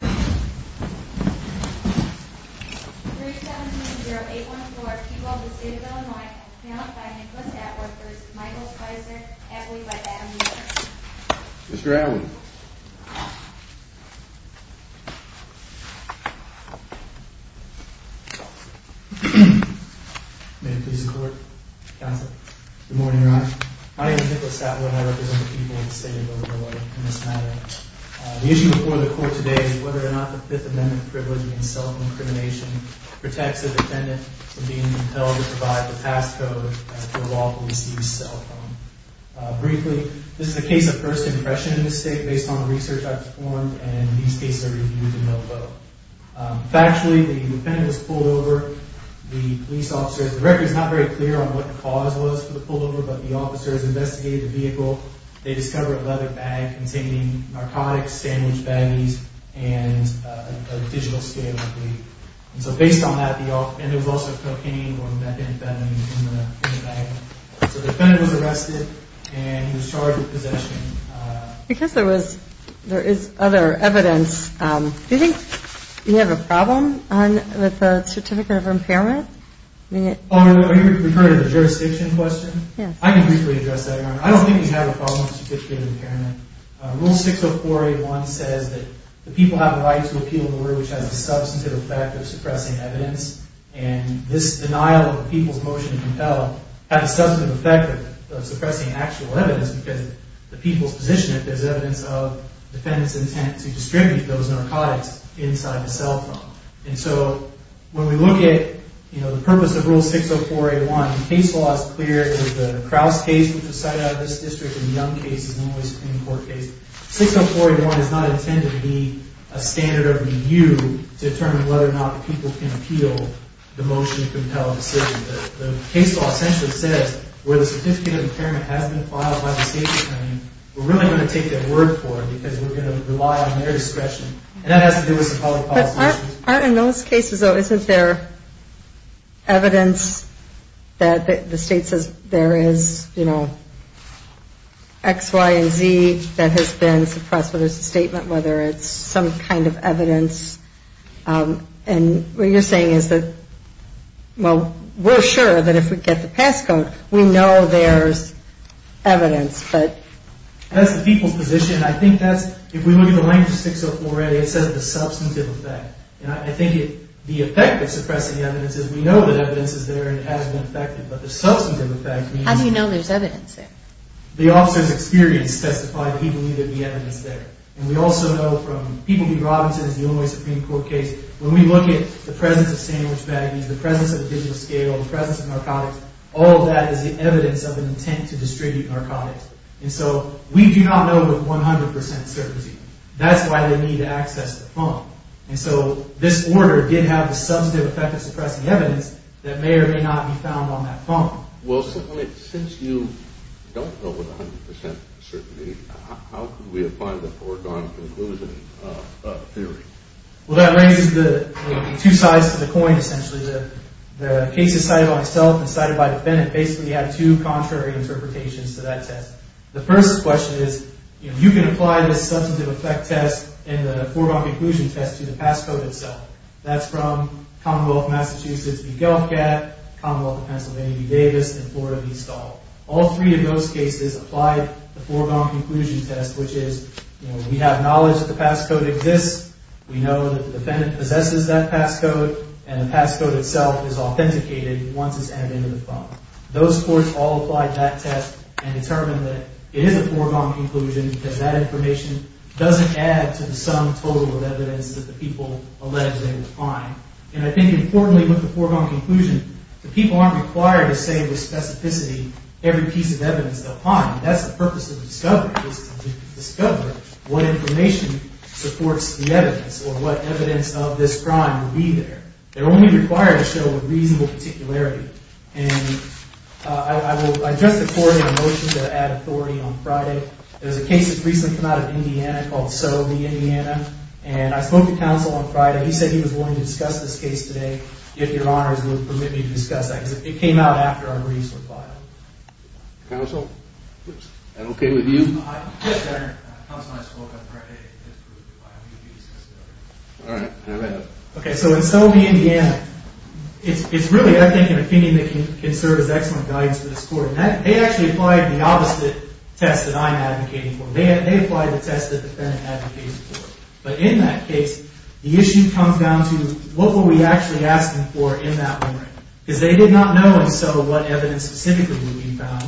317-0814, People of the State of Illinois, found by Nicholas Atwood v. Michael Spicer, abbey by Baton Rouge. Mr. Atwood. May it please the court, counsel. Good morning, Your Honor. My name is Nicholas Atwood and I represent the people of the State of Illinois in this matter. The issue before the court today is whether or not the Fifth Amendment privilege in cell phone crimination protects a defendant from being compelled to provide the passcode as per lawful use of a cell phone. Briefly, this is a case of first impression in this state based on research I've performed, and these cases are reviewed in no vote. Factually, the defendant was pulled over. The police officer, the record is not very clear on what the cause was for the pullover, but the officer has investigated the vehicle. They discovered a leather bag containing narcotics, sandwich baggies, and a digital scale. So based on that, and there was also cocaine or methamphetamine in the bag. So the defendant was arrested and he was charged with possession. Because there is other evidence, do you think you have a problem with the certificate of impairment? Are you referring to the jurisdiction question? Yes. I can briefly address that, Your Honor. I don't think you have a problem with the certificate of impairment. Rule 60481 says that the people have a right to appeal in a way which has a substantive effect of suppressing evidence. And this denial of the people's motion to compel have a substantive effect of suppressing actual evidence because the people's position is that there is evidence of the defendant's intent to distribute those narcotics inside the cell phone. And so, when we look at the purpose of Rule 60481, the case law is clear. The Kraus case, which was cited out of this district, and the Young case is the only Supreme Court case. 60481 is not intended to be a standard of review to determine whether or not the people can appeal the motion to compel a decision. The case law essentially says, where the certificate of impairment has been filed by the state attorney, we're really going to take their word for it because we're going to rely on their discretion. And that has to do with some public policy issues. In those cases, though, isn't there evidence that the state says there is, you know, X, Y, and Z that has been suppressed? Whether it's a statement, whether it's some kind of evidence. And what you're saying is that, well, we're sure that if we get the pass code, we know there's evidence. That's the people's position. I think that's, if we look at the language of 604A, it says the substantive effect. And I think the effect of suppressing evidence is we know that evidence is there and it has been affected. But the substantive effect means... How do you know there's evidence there? The officer's experience testified that he believed there'd be evidence there. And we also know from People v. Robinson, it's the only Supreme Court case, when we look at the presence of sandwich baggies, the presence of a digital scale, the presence of narcotics, all of that is the evidence of an intent to distribute narcotics. And so we do not know with 100% certainty. That's why they need to access the phone. And so this order did have the substantive effect of suppressing evidence that may or may not be found on that phone. Well, since you don't know with 100% certainty, how could we apply the foregone conclusion theory? Well, that raises the two sides to the coin, essentially. The cases cited by myself and cited by the defendant basically have two contrary interpretations to that test. The first question is, you can apply the substantive effect test and the foregone conclusion test to the pass code itself. That's from Commonwealth of Massachusetts v. Gelfgat, Commonwealth of Pennsylvania v. Davis, and Florida v. Stahl. All three of those cases apply the foregone conclusion test, which is we have knowledge that the pass code exists. We know that the defendant possesses that pass code, and the pass code itself is authenticated once it's entered into the phone. Those courts all applied that test and determined that it is a foregone conclusion because that information doesn't add to the sum total of evidence that the people allege they will find. And I think importantly with the foregone conclusion, the people aren't required to say with specificity every piece of evidence they'll find. That's the purpose of discovery, is to discover what information supports the evidence or what evidence of this crime will be there. They're only required to show with reasonable particularity. And I will adjust the court in a motion to add authority on Friday. There's a case that's recently come out of Indiana called Sow v. Indiana, and I spoke to counsel on Friday. He said he was willing to discuss this case today, if your honors would permit me to discuss that, because it came out after our briefs were filed. Counsel? Is that okay with you? Yes, Your Honor. Counsel and I spoke on Friday. All right. Go ahead. Okay, so in Sow v. Indiana, it's really, I think, an opinion that can serve as excellent guidance for this court. They actually applied the opposite test that I'm advocating for. They applied the test that the defendant advocated for. But in that case, the issue comes down to what were we actually asking for in that memory? Because they did not know in Sow what evidence specifically would be found.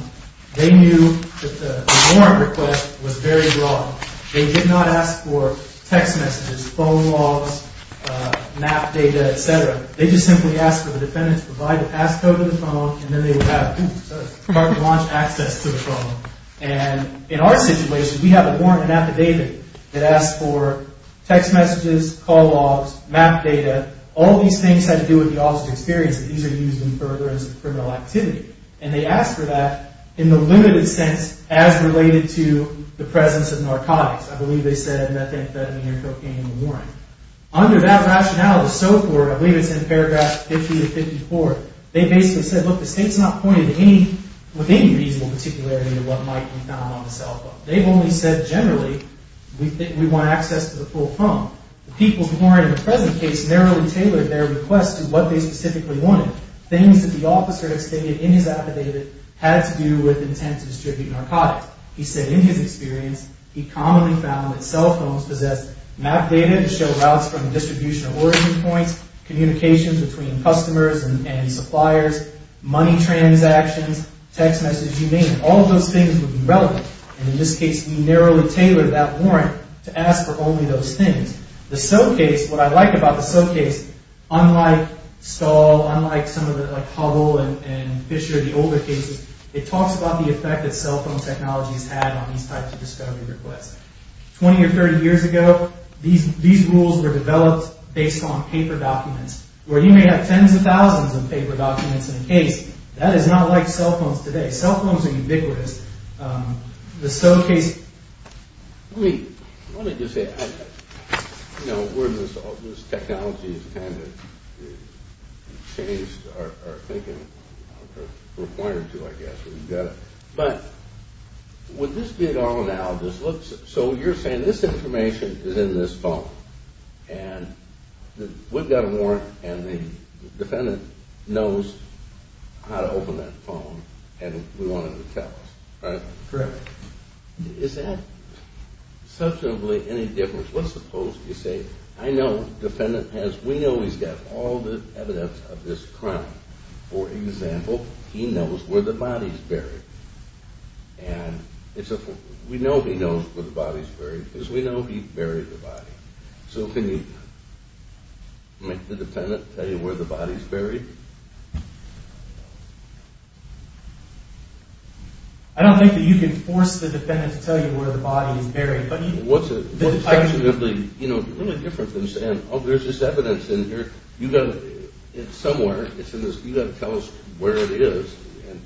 They knew that the warrant request was very broad. They did not ask for text messages, phone logs, map data, et cetera. They just simply asked for the defendant to provide a passcode to the phone, and then they would have car-to-launch access to the phone. And in our situation, we have a warrant in affidavit that asks for text messages, call logs, map data. All these things have to do with the officer's experience that these are used in furtherance of criminal activity. And they asked for that in the limited sense as related to the presence of narcotics. I believe they said methamphetamine or cocaine in the warrant. Under that rationale of Sow v. Indiana, I believe it's in paragraph 50 of 54, they basically said, look, the state's not pointed with any reasonable particularity to what might be found on the cell phone. They've only said generally we want access to the full phone. The people's warrant in the present case narrowly tailored their request to what they specifically wanted. Things that the officer had stated in his affidavit had to do with intent to distribute narcotics. He said in his experience he commonly found that cell phones possessed map data to show routes from distribution of origin points, communications between customers and suppliers, money transactions, text messages, you name it. All of those things would be relevant. And in this case, we narrowly tailored that warrant to ask for only those things. The Sow case, what I like about the Sow case, unlike Stahl, unlike some of the like Hubble and Fisher, the older cases, it talks about the effect that cell phone technology has had on these types of discovery requests. 20 or 30 years ago, these rules were developed based on paper documents. Where you may have tens of thousands of paper documents in a case, that is not like cell phones today. Cell phones are ubiquitous. The Sow case... Let me just say, you know, where this technology has kind of changed our thinking, required to, I guess. But with this being our analogous, so you're saying this information is in this phone. And we've got a warrant and the defendant knows how to open that phone and we want him to tell us, right? Correct. Is that substantively any different? Let's suppose you say, I know the defendant has, we know he's got all the evidence of this crime. And we know he knows where the body is buried because we know he buried the body. So can you make the defendant tell you where the body is buried? I don't think that you can force the defendant to tell you where the body is buried. What's actually really different than saying, oh, there's this evidence in here. Somewhere, you've got to tell us where it is and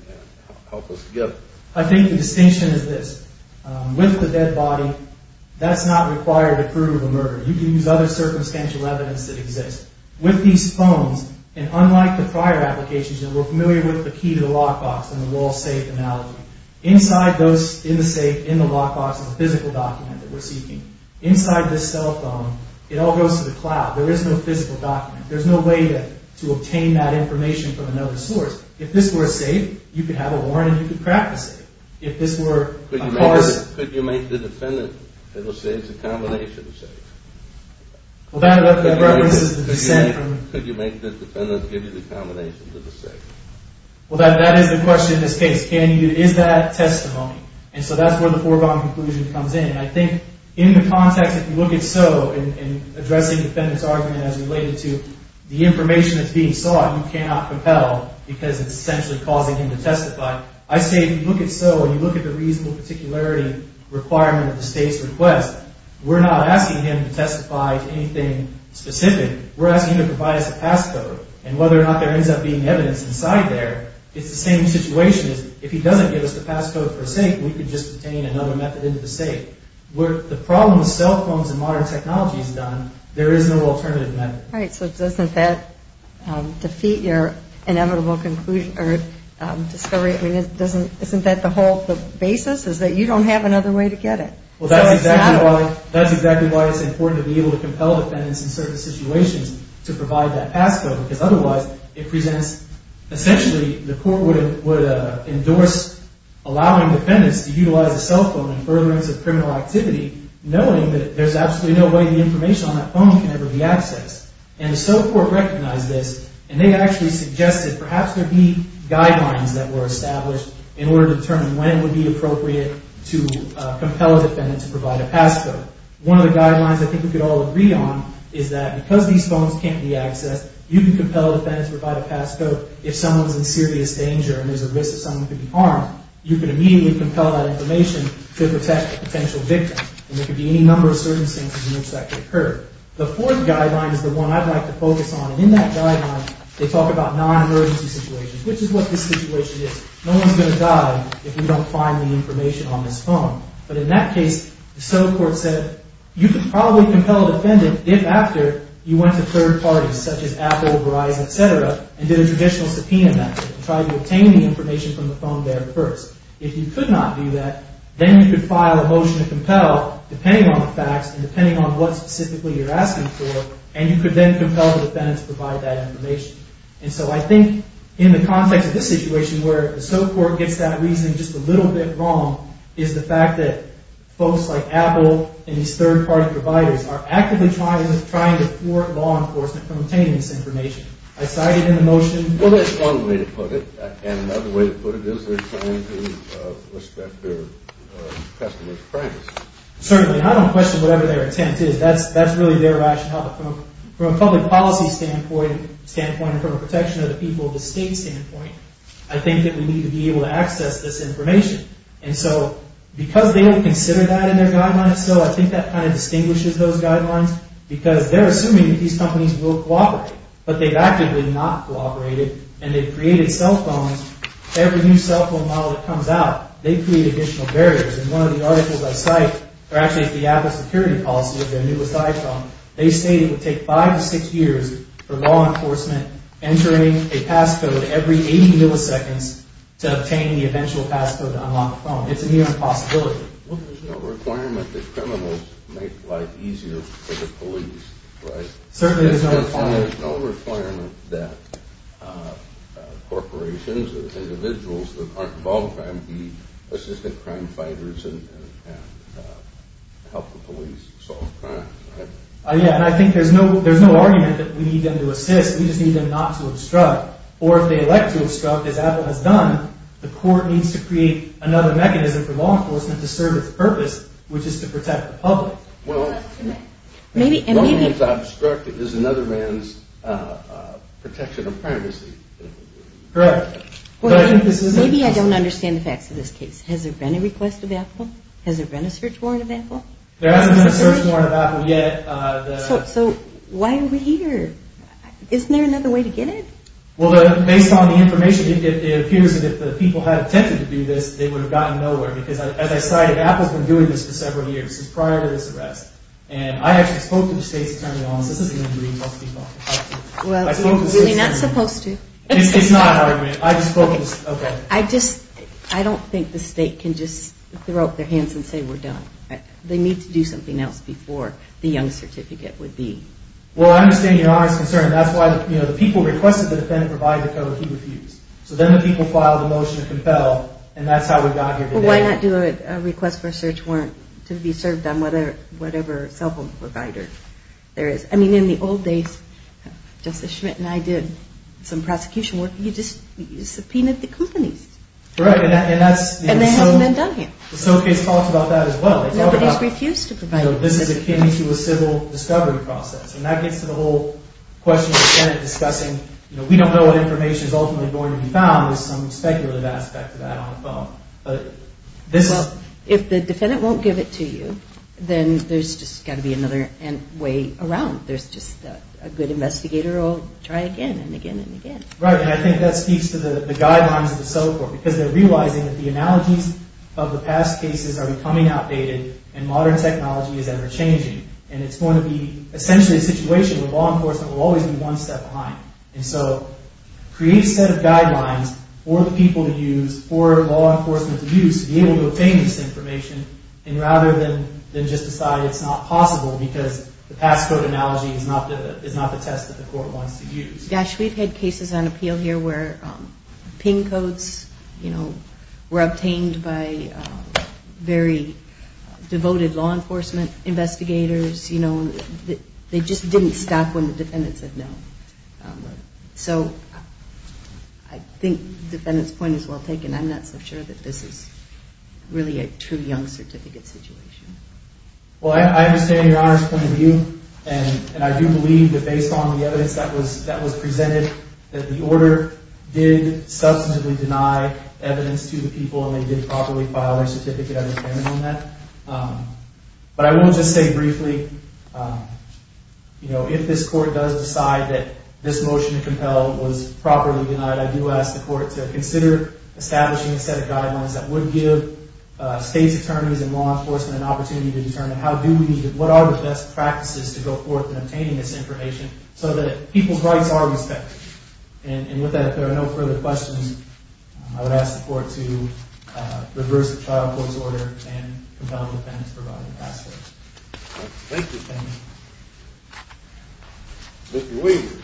help us together. I think the distinction is this. With the dead body, that's not required to prove a murder. You can use other circumstantial evidence that exists. With these phones, and unlike the prior applications that we're familiar with, the key to the lockbox and the wall safe analogy, inside those, in the safe, in the lockbox, is a physical document that we're seeking. Inside this cell phone, it all goes to the cloud. There is no physical document. There's no way to obtain that information from another source. If this were a safe, you could have a warrant and you could crack the safe. If this were a parcel. Could you make the defendant say it's a combination of safes? Well, that references the dissent. Could you make the defendant give you the combination of the safe? Well, that is the question in this case. Is that testimony? And so that's where the foregone conclusion comes in. And I think in the context, if you look at So and addressing the defendant's argument as related to the information that's being sought, you cannot propel because it's essentially causing him to testify. I say if you look at So and you look at the reasonable particularity requirement of the state's request, we're not asking him to testify to anything specific. We're asking him to provide us a passcode. And whether or not there ends up being evidence inside there, it's the same situation. If he doesn't give us the passcode for a safe, we could just obtain another method into the safe. Where the problem with cell phones and modern technology is done, there is no alternative method. All right. So doesn't that defeat your inevitable conclusion or discovery? I mean, isn't that the whole basis is that you don't have another way to get it? Well, that's exactly why it's important to be able to compel defendants in certain situations to provide that passcode because otherwise it presents essentially the court would endorse allowing defendants to utilize a cell phone in furtherance of criminal activity, knowing that there's absolutely no way the information on that phone can ever be accessed. And the civil court recognized this, and they actually suggested perhaps there be guidelines that were established in order to determine when it would be appropriate to compel a defendant to provide a passcode. One of the guidelines I think we could all agree on is that because these phones can't be accessed, you can compel a defendant to provide a passcode if someone's in serious danger and there's a risk that someone could be harmed. You can immediately compel that information to protect a potential victim. And there could be any number of circumstances in which that could occur. The fourth guideline is the one I'd like to focus on. And in that guideline, they talk about non-emergency situations, which is what this situation is. No one's going to die if we don't find the information on this phone. But in that case, the civil court said you could probably compel a defendant if after you went to third parties, such as Apple, Verizon, et cetera, and did a traditional subpoena method to try to obtain the information from the phone there first. If you could not do that, then you could file a motion to compel, depending on the facts and depending on what specifically you're asking for, and you could then compel the defendant to provide that information. And so I think in the context of this situation where the civil court gets that reasoning just a little bit wrong is the fact that folks like Apple and these third-party providers are actively trying to thwart law enforcement from obtaining this information. I cite it in the motion. Well, that's one way to put it. And another way to put it is they're trying to respect their customer's privacy. Certainly. I don't question whatever their intent is. That's really their rationale. From a public policy standpoint and from a protection of the people of the state standpoint, I think that we need to be able to access this information. And so because they don't consider that in their guidelines, so I think that kind of distinguishes those guidelines because they're assuming that these companies will cooperate, but they've actively not cooperated, and they've created cell phones. Every new cell phone model that comes out, they create additional barriers. And one of the articles I cite, or actually it's the Apple security policy, their newest iPhone, they state it would take five to six years for law enforcement entering a passcode every 80 milliseconds to obtain the eventual passcode to unlock the phone. It's a near impossibility. There's no requirement that criminals make life easier for the police, right? Certainly there's no requirement. There's no requirement that corporations or individuals that aren't involved in crime be assistant crime fighters and help the police solve crimes, right? Yeah, and I think there's no argument that we need them to assist. We just need them not to obstruct. Or if they elect to obstruct, as Apple has done, the court needs to create another mechanism for law enforcement to serve its purpose, which is to protect the public. Well, the only thing that's obstructing is another man's protection of privacy. Correct. Maybe I don't understand the facts of this case. Has there been a request of Apple? Has there been a search warrant of Apple? There hasn't been a search warrant of Apple yet. So why are we here? Isn't there another way to get it? Well, based on the information, it appears that if the people had attempted to do this, they would have gotten nowhere because, as I cited, Apple has been doing this for several years. This is prior to this arrest. And I actually spoke to the state's attorney on this. This is an injury. Well, you're really not supposed to. It's not an argument. I just spoke to the state attorney. I don't think the state can just throw up their hands and say we're done. They need to do something else before the young certificate would be. Well, I understand your honest concern. That's why the people requested the defendant provide the code. He refused. So then the people filed a motion to compel, and that's how we got here today. Well, why not do a request for a search warrant to be served on whatever cell phone provider there is? I mean, in the old days, Justice Schmidt and I did some prosecution work. You just subpoenaed the companies. Correct. And that's the case. And they haven't been done yet. The SOC case talks about that as well. Nobody's refused to provide. And, you know, this is akin to a civil discovery process. And that gets to the whole question of the Senate discussing, you know, we don't know what information is ultimately going to be found. There's some speculative aspect to that on the phone. Well, if the defendant won't give it to you, then there's just got to be another way around. There's just a good investigator will try again and again and again. Right. And I think that speaks to the guidelines of the civil court because they're realizing that the analogies of the past cases are becoming outdated and modern technology is ever-changing. And it's going to be essentially a situation where law enforcement will always be one step behind. And so create a set of guidelines for the people to use, for law enforcement to use, to be able to obtain this information, and rather than just decide it's not possible because the past code analogy is not the test that the court wants to use. Gosh, we've had cases on appeal here where PIN codes, you know, were obtained by very devoted law enforcement investigators. You know, they just didn't stop when the defendant said no. So I think the defendant's point is well taken. I'm not so sure that this is really a true young certificate situation. Well, I understand your honors point of view, and I do believe that based on the evidence that was presented that the order did substantively deny evidence to the people and they did properly file their certificate of impairment on that. But I will just say briefly, you know, if this court does decide that this motion to compel was properly denied, I do ask the court to consider establishing a set of guidelines that would give state's attorneys and law enforcement an opportunity to determine what are the best practices to go forth in obtaining this information so that people's rights are respected. And with that, if there are no further questions, I would ask the court to reverse the trial court's order and compel the defendant to provide the past code. Thank you. Thank you. Mr. Weaver.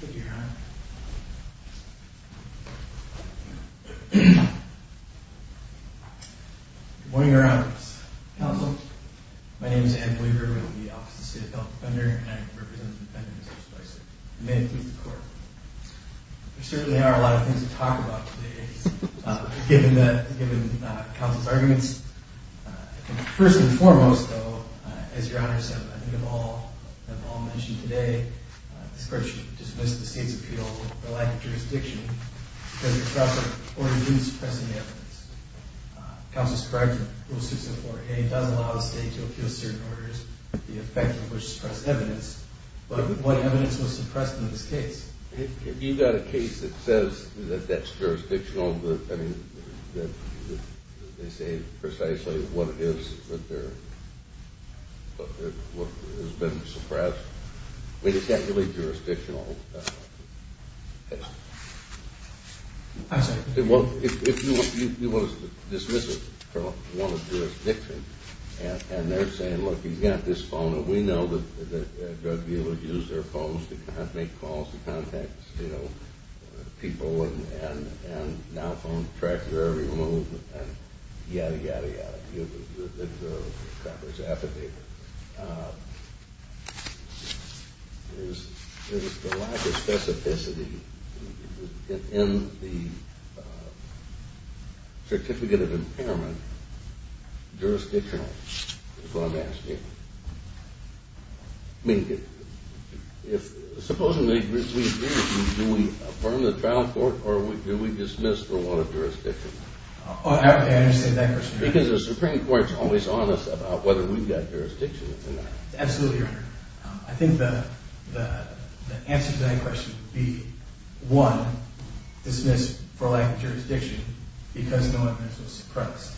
Thank you, Your Honor. Good morning, Your Honor. Counsel. My name is Ed Weaver. I'm the Office of the State Adult Defender, and I represent the defendants in this case. May it please the court. There certainly are a lot of things to talk about today, given counsel's arguments. First and foremost, though, as Your Honors have all mentioned today, this court should dismiss the state's appeal for lack of jurisdiction, because it suppresses or reduces pressing evidence. Counsel's correct in Rule 604A. It does allow the state to appeal certain orders, the effect of which suppress evidence, but what evidence was suppressed in this case? Have you got a case that says that that's jurisdictional? I mean, that they say precisely what it is that has been suppressed? I mean, it's not really jurisdictional. I'm sorry. Well, if you want us to dismiss it from one of the jurisdictions, and they're saying, look, you've got this phone, and we know that drug dealers use their phones to make calls to contact, you know, people, and now phones track their every move, and yada, yada, yada. I'm sorry to give the Congress affidavit. Is the lack of specificity in the Certificate of Impairment jurisdictional, is what I'm asking? I mean, supposing we agree, do we affirm the trial court, or do we dismiss the law of jurisdiction? I understand that question. Because the Supreme Court is always honest about whether we've got jurisdiction or not. Absolutely, Your Honor. I think the answer to that question would be, one, dismiss for lack of jurisdiction because no evidence was suppressed,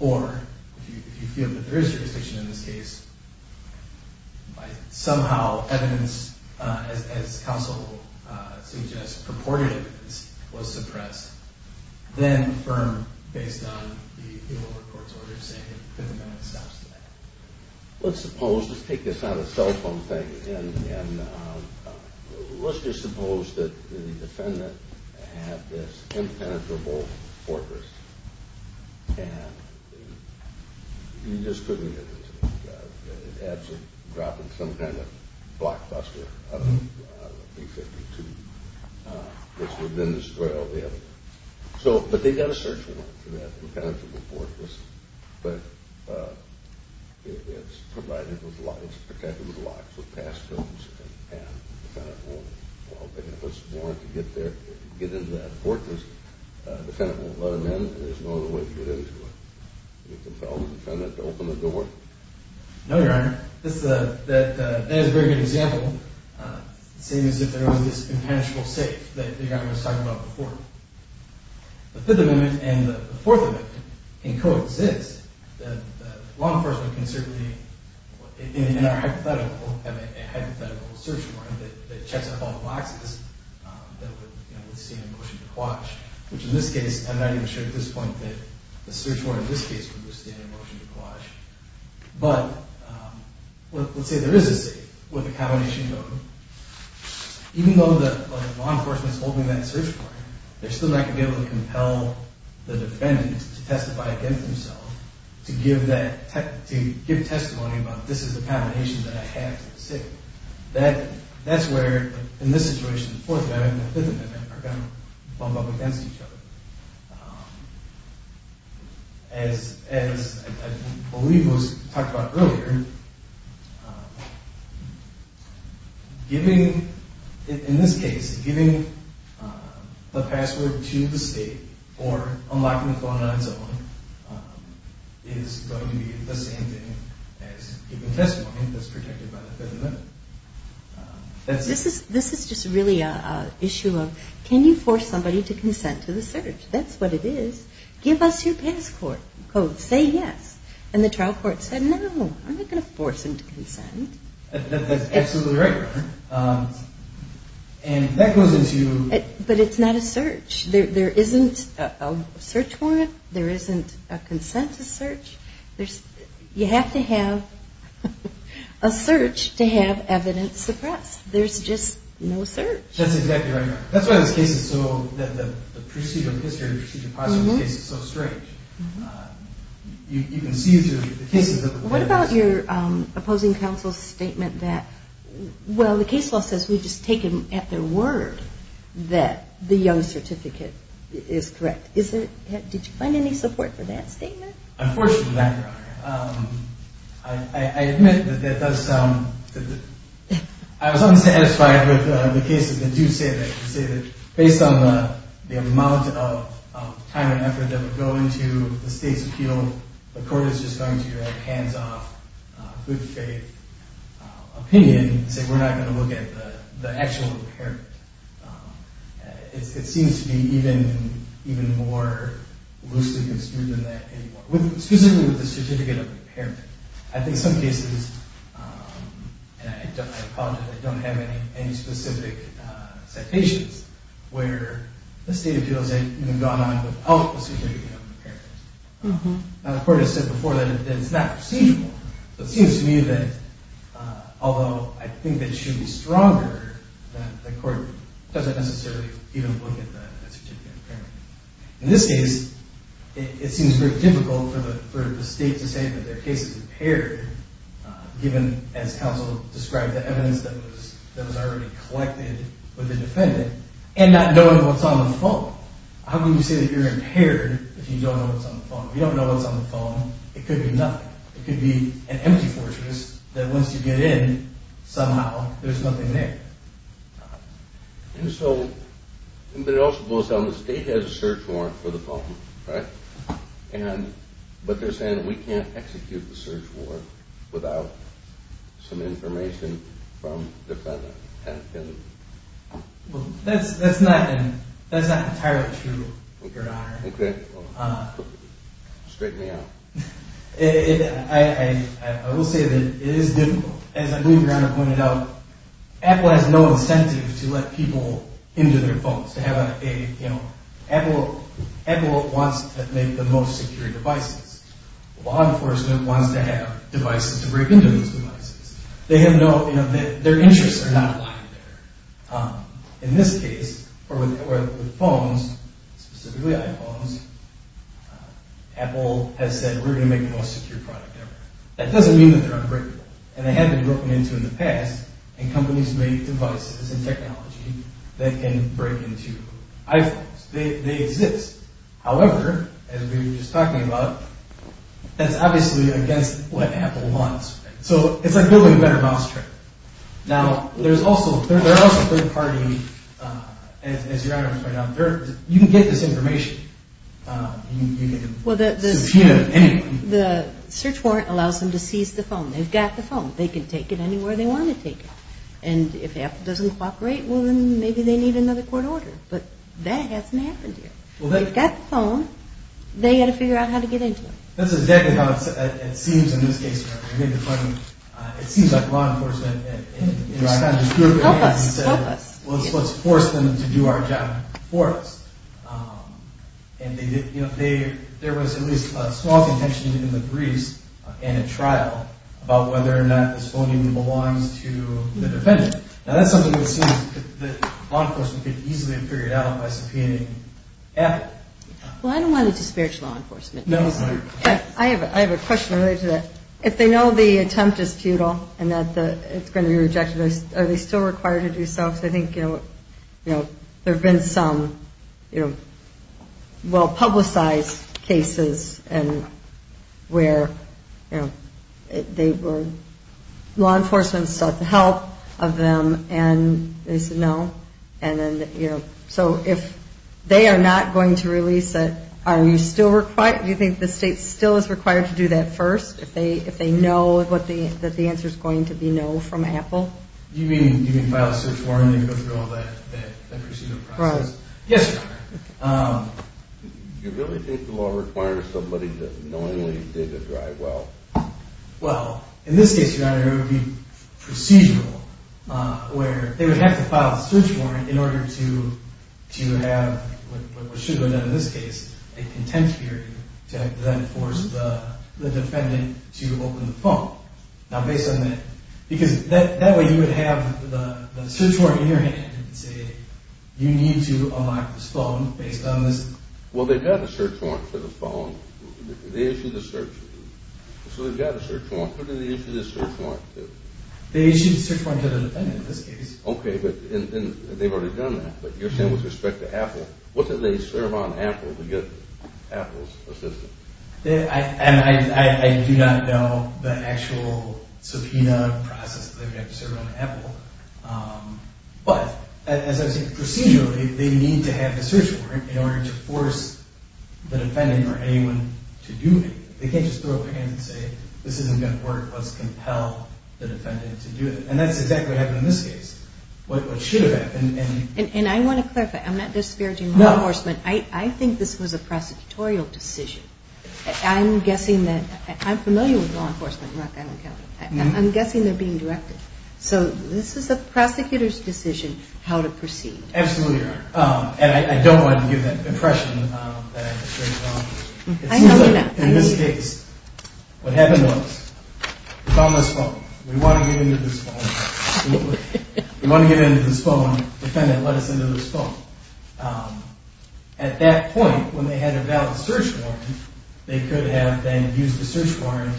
or if you feel that there is jurisdiction in this case, by somehow evidence, as counsel suggests, purported evidence was suppressed, then affirm based on the Oval Court's order saying that the defendant has access to that. Let's suppose, let's take this on a cell phone thing, and let's just suppose that the defendant had this impenetrable force, and he just couldn't get into it. It had to have dropped in some kind of blockbuster, I don't know, B-52, which would then destroy all the evidence. But they've got a search warrant for that impenetrable force, but it's protected with locks, with pass codes, and while they have a search warrant to get into that fortress, the defendant won't let him in, and there's no other way to get into it. Would it compel the defendant to open the door? No, Your Honor. That is a very good example, same as if there was this impenetrable safe that Your Honor was talking about before. The Fifth Amendment and the Fourth Amendment can coexist. Law enforcement can certainly, in our hypothetical, have a hypothetical search warrant that checks off all the boxes that would withstand a motion to quash, which in this case, I'm not even sure at this point that the search warrant in this case would withstand a motion to quash. But let's say there is a safe with a combination code. Even though the law enforcement is holding that search warrant, they're still not going to be able to compel the defendant to testify against himself to give testimony about, this is the combination that I have to the safe. That's where, in this situation, the Fourth Amendment and the Fifth Amendment are going to bump up against each other. As I believe was talked about earlier, in this case, giving the password to the state or unlocking the phone on its own is going to be the same thing as giving testimony that's protected by the Fifth Amendment. This is just really an issue of, can you force somebody to consent to the search? That's what it is. Give us your pass code. Say yes. And the trial court said, no, I'm not going to force him to consent. That's absolutely right, Your Honor. But it's not a search. There isn't a search warrant. There isn't a consent to search. You have to have a search to have evidence suppressed. There's just no search. That's exactly right, Your Honor. That's why this case is so, the procedure of history, the procedure of password in this case, is so strange. What about your opposing counsel's statement that, well, the case law says we just take it at their word that the young certificate is correct. Did you find any support for that statement? Unfortunately not, Your Honor. I admit that that does sound, I was unsatisfied with the cases that do say that. They say that based on the amount of time and effort that would go into the state's appeal, the court is just going to hand off good faith opinion and say we're not going to look at the actual impairment. It seems to be even more loosely construed than that anymore, specifically with the certificate of impairment. I think some cases, and I apologize, I don't have any specific citations where the state appeals have even gone on without the certificate of impairment. The court has said before that it's not procedural. It seems to me that, although I think they should be stronger, the court doesn't necessarily even look at the certificate of impairment. In this case, it seems very difficult for the state to say that their case is impaired, given, as counsel described, the evidence that was already collected with the defendant, and not knowing what's on the phone. How can you say that you're impaired if you don't know what's on the phone? If you don't know what's on the phone, it could be nothing. It could be an empty fortress that once you get in, somehow there's nothing there. And so, but it also goes down, the state has a search warrant for the phone, right? And, but they're saying we can't execute the search warrant without some information from the defendant. Well, that's not entirely true, Your Honor. Okay, well, straighten me out. I will say that it is difficult. As I believe Your Honor pointed out, Apple has no incentive to let people into their phones to have a, you know, Apple wants to make the most secure devices. Law enforcement wants to have devices to break into those devices. They have no, you know, their interests are not aligned there. In this case, or with phones, specifically iPhones, Apple has said we're going to make the most secure product ever. That doesn't mean that they're unbreakable, and they have been broken into in the past, and companies make devices and technology that can break into iPhones. They exist. However, as we were just talking about, that's obviously against what Apple wants. So it's like building a better mousetrap. Now, there's also, there are also third-party, as Your Honor pointed out, you can get this information. Well, the search warrant allows them to seize the phone. They've got the phone. They can take it anywhere they want to take it. And if Apple doesn't cooperate, well, then maybe they need another court order. But that hasn't happened here. They've got the phone. They've got to figure out how to get into it. That's exactly how it seems in this case, Your Honor. It seems like law enforcement, in a sense, threw up their hands and said, well, let's force them to do our job for us. And, you know, there was at least a small contention in the briefs and at trial about whether or not this phone even belongs to the defendant. Now, that's something that seems that law enforcement could easily figure out by subpoenaing Apple. Well, I don't want it to discourage law enforcement. No, that's fine. I have a question related to that. If they know the attempt is futile and that it's going to be rejected, are they still required to do so? Because I think, you know, there have been some, you know, well-publicized cases where law enforcement sought the help of them and they said no. So if they are not going to release it, do you think the state still is required to do that first, if they know that the answer is going to be no from Apple? Do you mean file a search warrant and go through all that procedural process? Yes, Your Honor. Do you really think the law requires somebody to know that they did a dry well? Well, in this case, Your Honor, it would be procedural, where they would have to file a search warrant in order to have what should have been done in this case, a contempt hearing to then force the defendant to open the phone. Now, based on that, because that way you would have the search warrant in your hand and say you need to unlock this phone based on this. Well, they've got a search warrant for the phone. They issued the search warrant. So they've got a search warrant. Who did they issue the search warrant to? They issued the search warrant to the defendant in this case. Okay, but they've already done that. But you're saying with respect to Apple, what did they serve on Apple to get Apple's assistance? I do not know the actual subpoena process that they would have to serve on Apple. But as I was saying, procedurally, they need to have the search warrant in order to force the defendant or anyone to do it. They can't just throw up their hands and say, this isn't going to work, let's compel the defendant to do it. And that's exactly what happened in this case, what should have happened. And I want to clarify, I'm not disparaging law enforcement. I think this was a prosecutorial decision. I'm guessing that – I'm familiar with law enforcement in Rock Island County. I'm guessing they're being directed. So this is the prosecutor's decision how to proceed. Absolutely, Your Honor. And I don't want to give that impression that I have a strange bond. I know you're not. In this case, what happened was we found this phone. We want to get into this phone. We want to get into this phone. The defendant let us into this phone. At that point, when they had a valid search warrant, they could have then used the search warrant,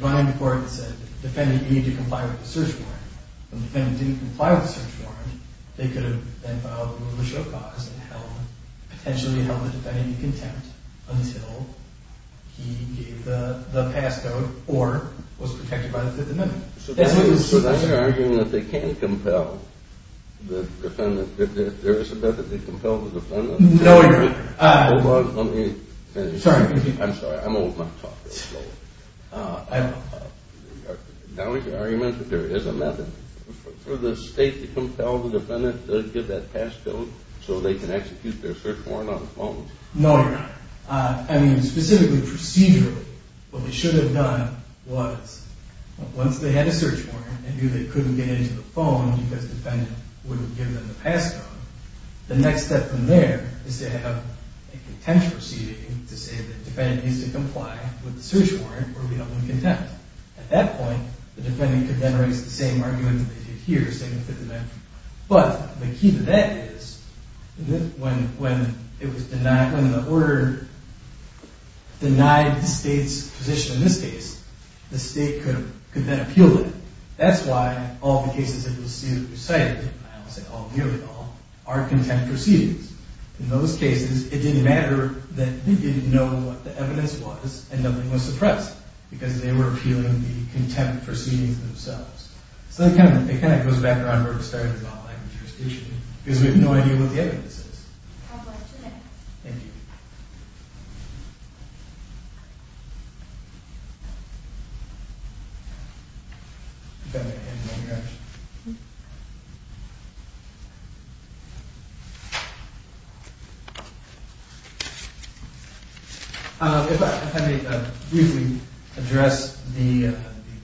run into court and said, defendant, you need to comply with the search warrant. If the defendant didn't comply with the search warrant, they could have then filed a rule of show cause and held – potentially held the defendant in contempt until he gave the pass code or was protected by the Fifth Amendment. So then you're arguing that they can't compel the defendant? There is a method they compel the defendant? No, Your Honor. Hold on. Let me finish. I'm sorry. I'm old. I'm talking. Now you're arguing that there is a method for the state to compel the defendant to give that pass code so they can execute their search warrant on the phone? No, Your Honor. I mean, specifically procedurally, what they should have done was once they had a search warrant and knew they couldn't get into the phone because the defendant wouldn't give them the pass code, the next step from there is to have a contempt proceeding to say the defendant needs to comply with the search warrant or we don't want contempt. At that point, the defendant could then raise the same argument that they did here, saying the Fifth Amendment. But the key to that is when it was denied – when the order denied the state's position in this case, the state could then appeal it. That's why all the cases that we've cited, I don't say all, nearly all, are contempt proceedings. In those cases, it didn't matter that they didn't know what the evidence was and nothing was suppressed because they were appealing the contempt proceedings themselves. So it kind of goes back to where we started about language jurisdiction because we have no idea what the evidence is. I'll go to the next. Thank you. If I may briefly address the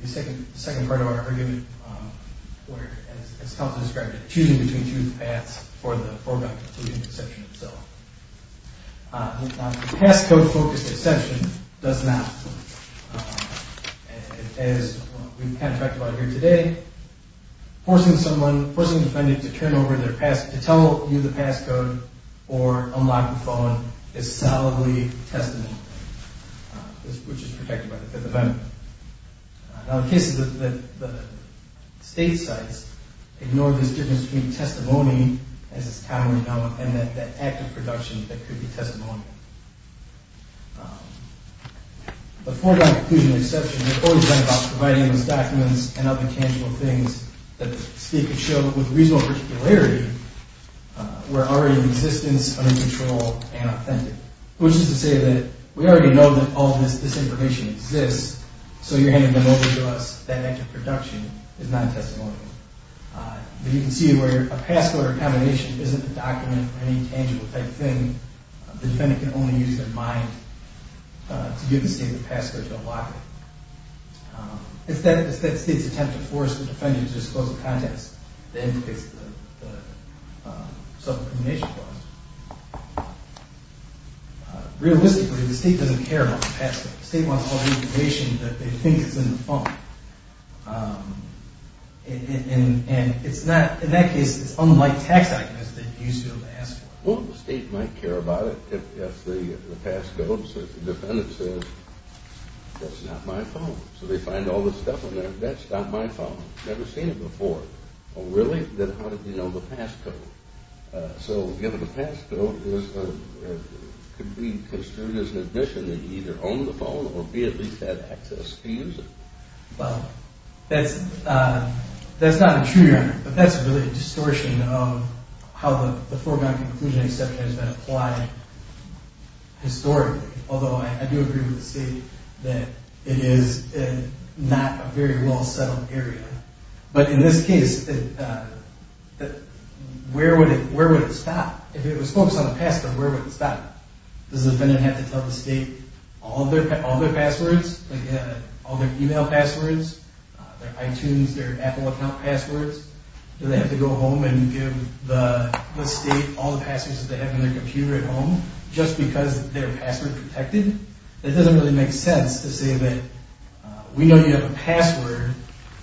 second part of our argument, where it's helpful to describe it as choosing between two paths for the foregone conclusion exception itself. The passcode-focused exception does not. As we've kind of talked about here today, forcing someone – forcing the defendant to turn over their pass – to tell you the passcode or unlock the phone is solidly testament, which is protected by the Fifth Amendment. Now, in cases that the state cites, ignore this difference between testimony as it's commonly known and that act of production that could be testimonial. The foregone conclusion exception has always been about providing those documents and other tangible things that the state could show with reasonable particularity were already in existence, under control, and authentic. Which is to say that we already know that all of this information exists, so you're handing them over to us. That act of production is not testimonial. But you can see where a passcode or a combination isn't a document or any tangible type thing. The defendant can only use their mind to give the state the passcode to unlock it. It's that state's attempt to force the defendant to disclose the contents that indicates the sublimination clause. Realistically, the state doesn't care about the passcode. The state wants all the information that they think is in the phone. And in that case, it's unlike tax documents that you used to be able to ask for. Well, the state might care about it if the passcode, the defendant says, that's not my phone. So they find all this stuff on there, that's not my phone. Never seen it before. Well, really? Then how did you know the passcode? So, given the passcode, it could be construed as an admission that he either owned the phone or he at least had access to use it. Well, that's not a true argument, but that's really a distortion of how the foreground-conclusion exception has been applied historically. Although I do agree with the state that it is not a very well-settled area. But in this case, where would it stop? If it was focused on the passcode, where would it stop? Does the defendant have to tell the state all their passwords, all their email passwords, their iTunes, their Apple account passwords? Do they have to go home and give the state all the passwords that they have in their computer at home just because they're password-protected? It doesn't really make sense to say that we know you have a password.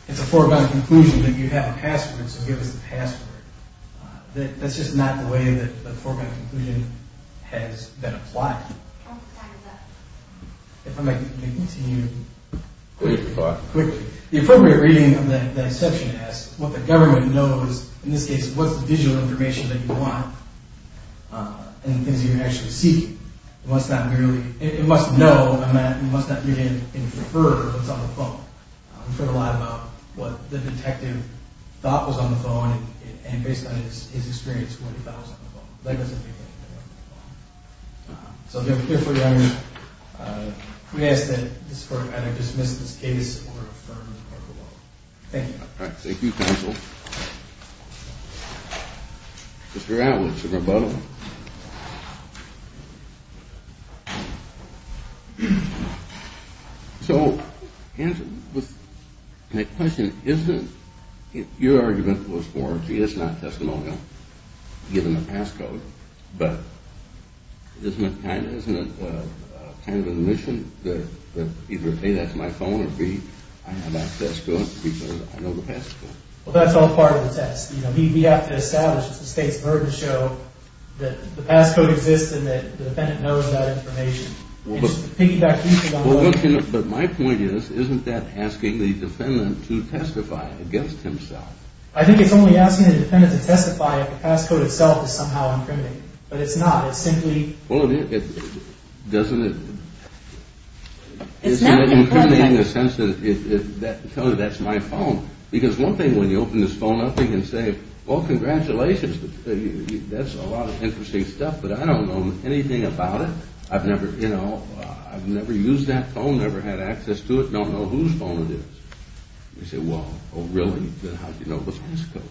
It's a foreground-conclusion that you have a password, so give us the password. That's just not the way that the foreground-conclusion has been applied. The appropriate reading of the exception is what the government knows. In this case, what's the digital information that you want and the things you're actually seeking? It must know and it must not really infer what's on the phone. We've heard a lot about what the detective thought was on the phone and based on his experience, what he thought was on the phone. That doesn't make any sense on the phone. So if you're here for the argument, can we ask that this court either dismiss this case or affirm the court's ruling? Thank you. Thank you, counsel. Mr. Atwood, it's a rebuttal. Thank you. So, my question isn't if your argument was for, gee, that's not testimonial, given the passcode, but isn't it kind of an admission that either, A, that's my phone, or B, I have access to it because I know the passcode? Well, that's all part of the test. We have to establish the state's burden show that the passcode exists and that the defendant knows that information. But my point is, isn't that asking the defendant to testify against himself? I think it's only asking the defendant to testify if the passcode itself is somehow incriminating. But it's not. It's simply – Well, doesn't it – It's not incriminating. It's not incriminating in the sense that it tells you that's my phone. Because one thing, when you open this phone up, you can say, well, congratulations. That's a lot of interesting stuff. But I don't know anything about it. I've never, you know, I've never used that phone, never had access to it, don't know whose phone it is. You say, well, really? How do you know the passcode?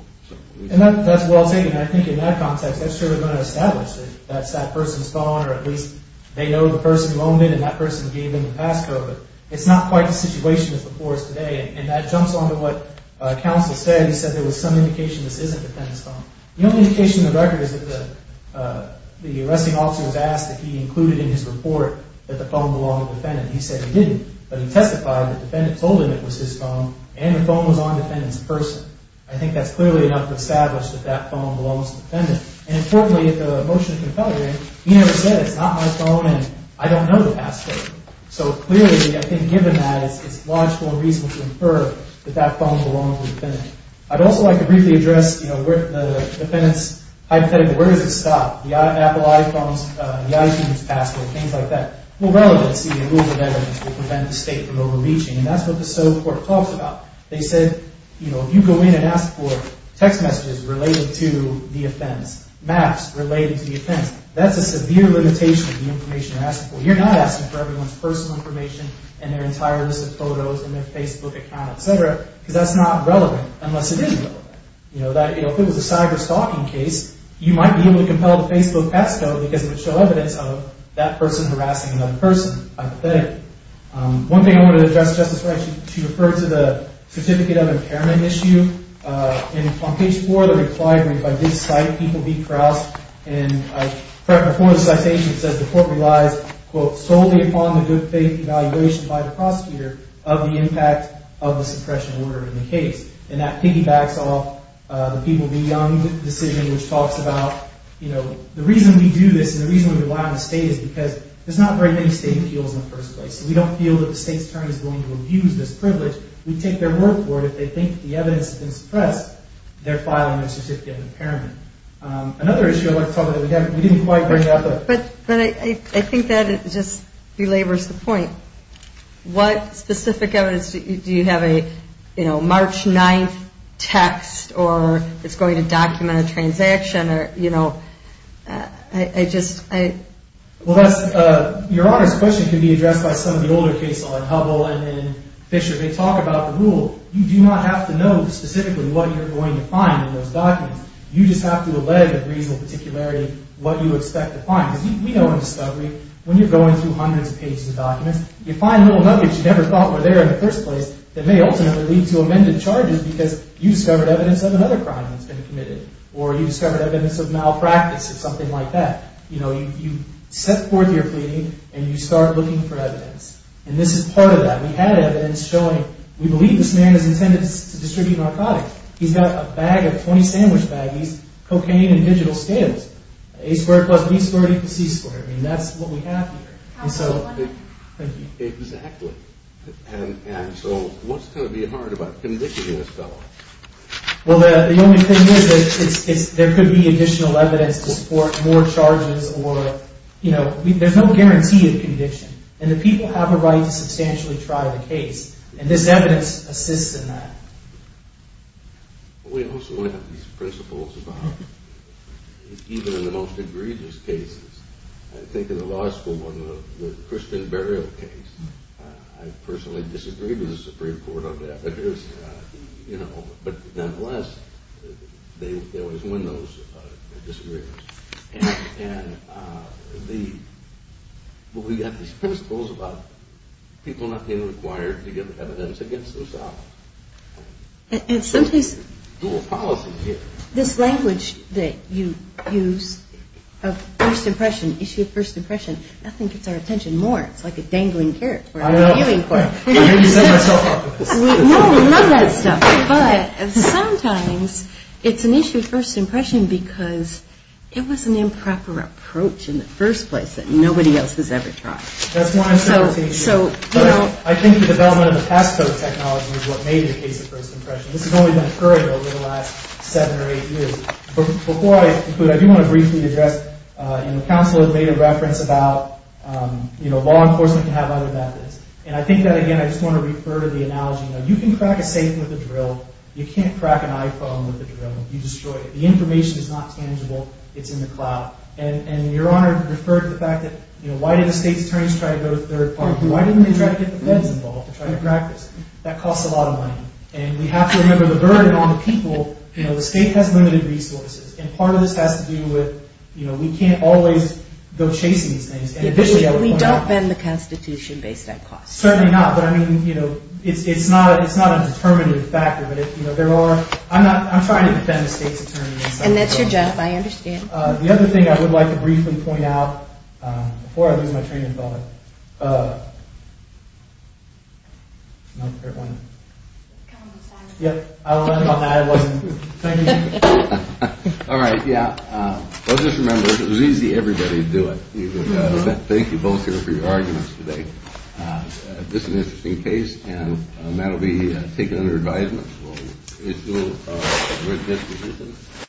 And that's well taken. I think in that context, that's really going to establish that that's that person's phone or at least they know the person who owned it and that person gave them the passcode. But it's not quite the situation as before today. And that jumps onto what counsel said. He said there was some indication this isn't the defendant's phone. The only indication in the record is that the arresting officer was asked if he included in his report that the phone belonged to the defendant. He said he didn't. But he testified that the defendant told him it was his phone and the phone was on the defendant's person. I think that's clearly enough to establish that that phone belongs to the defendant. And importantly, in the motion of confederation, he never said it's not my phone and I don't know the passcode. So clearly, I think, given that, it's logical and reasonable to infer that that phone belonged to the defendant. I'd also like to briefly address the defendant's hypothetical. Where does it stop? The Apple iPhones, the iTunes passcode, things like that. Well, relevancy and rules of evidence will prevent the state from overreaching. And that's what the civil court talks about. They said, you know, if you go in and ask for text messages related to the offense, maps related to the offense, that's a severe limitation of the information you're asking for. You're not asking for everyone's personal information and their entire list of photos and their Facebook account, et cetera, because that's not relevant unless it is relevant. You know, if it was a cyber-stalking case, you might be able to compel the Facebook passcode because it would show evidence of that person harassing another person, hypothetically. One thing I wanted to address, Justice Wright, to refer to the certificate of impairment issue. And on page 4, the reply, I mean, if I did cite it, people would be cross. And I quote a citation that says the court relies, quote, solely upon the good faith evaluation by the prosecutor of the impact of the suppression order in the case. And that piggybacks off the People Be Young decision, which talks about, you know, the reason we do this and the reason we rely on the state is because there's not very many state appeals in the first place. So we don't feel that the state's turn is going to abuse this privilege. We take their word for it if they think the evidence has been suppressed, they're filing their certificate of impairment. Another issue I'd like to talk about that we didn't quite bring up. But I think that it just belabors the point. What specific evidence do you have a, you know, March 9th text or it's going to document a transaction or, you know, I just, I. Well, that's, Your Honor's question can be addressed by some of the older cases like Hubble and Fisher. They talk about the rule. You do not have to know specifically what you're going to find in those documents. You just have to allege of reasonable particularity what you expect to find. Because we know in discovery, when you're going through hundreds of pages of documents, you find little nuggets you never thought were there in the first place. That may ultimately lead to amended charges because you discovered evidence of another crime that's been committed. Or you discovered evidence of malpractice or something like that. You know, you set forth your pleading and you start looking for evidence. And this is part of that. We had evidence showing we believe this man is intended to distribute narcotics. He's got a bag of 20 sandwich baggies, cocaine in digital scales. A squared plus B squared equals C squared. I mean, that's what we have here. Exactly. And so what's going to be hard about convicting this fellow? Well, the only thing is there could be additional evidence to support more charges or, you know, there's no guarantee of conviction. And the people have a right to substantially try the case. And this evidence assists in that. We also have these principles about even in the most egregious cases. I think in the law school, one of the Christian burial cases, I personally disagreed with the Supreme Court on that. But, you know, but nonetheless, they always win those disagreements. And we have these principles about people not being required to give evidence against themselves. And sometimes this language that you use of first impression, issue of first impression, I think it's our attention more. It's like a dangling carrot for our viewing court. I know. I heard you set myself up for this. I love that stuff. But sometimes it's an issue of first impression because it was an improper approach in the first place that nobody else has ever tried. That's one interpretation. So, you know. I think the development of the pass code technology is what made it a case of first impression. This has only been occurring over the last seven or eight years. Before I conclude, I do want to briefly address, you know, counsel had made a reference about, you know, law enforcement can have other methods. And I think that, again, I just want to refer to the analogy, you know, you can crack a safe with a drill. You can't crack an iPhone with a drill. You destroy it. The information is not tangible. It's in the cloud. And Your Honor referred to the fact that, you know, why did the state's attorneys try to go to third party? Why didn't they try to get the feds involved to try to crack this? That costs a lot of money. And we have to remember the burden on the people. You know, the state has limited resources. And part of this has to do with, you know, we can't always go chasing these things. We don't bend the Constitution based on cost. Certainly not. But, I mean, you know, it's not a determinative factor. But, you know, there are. I'm not. I'm trying to defend the state's attorneys. And that's your job. I understand. The other thing I would like to briefly point out before I lose my train of thought. No, everyone. Yeah. I wasn't. Thank you. All right. Yeah. Well, just remember, it was easy. Everybody would do it. Thank you both here for your arguments today. This is an interesting case. And that will be taken under advisement. We'll issue a written testimony.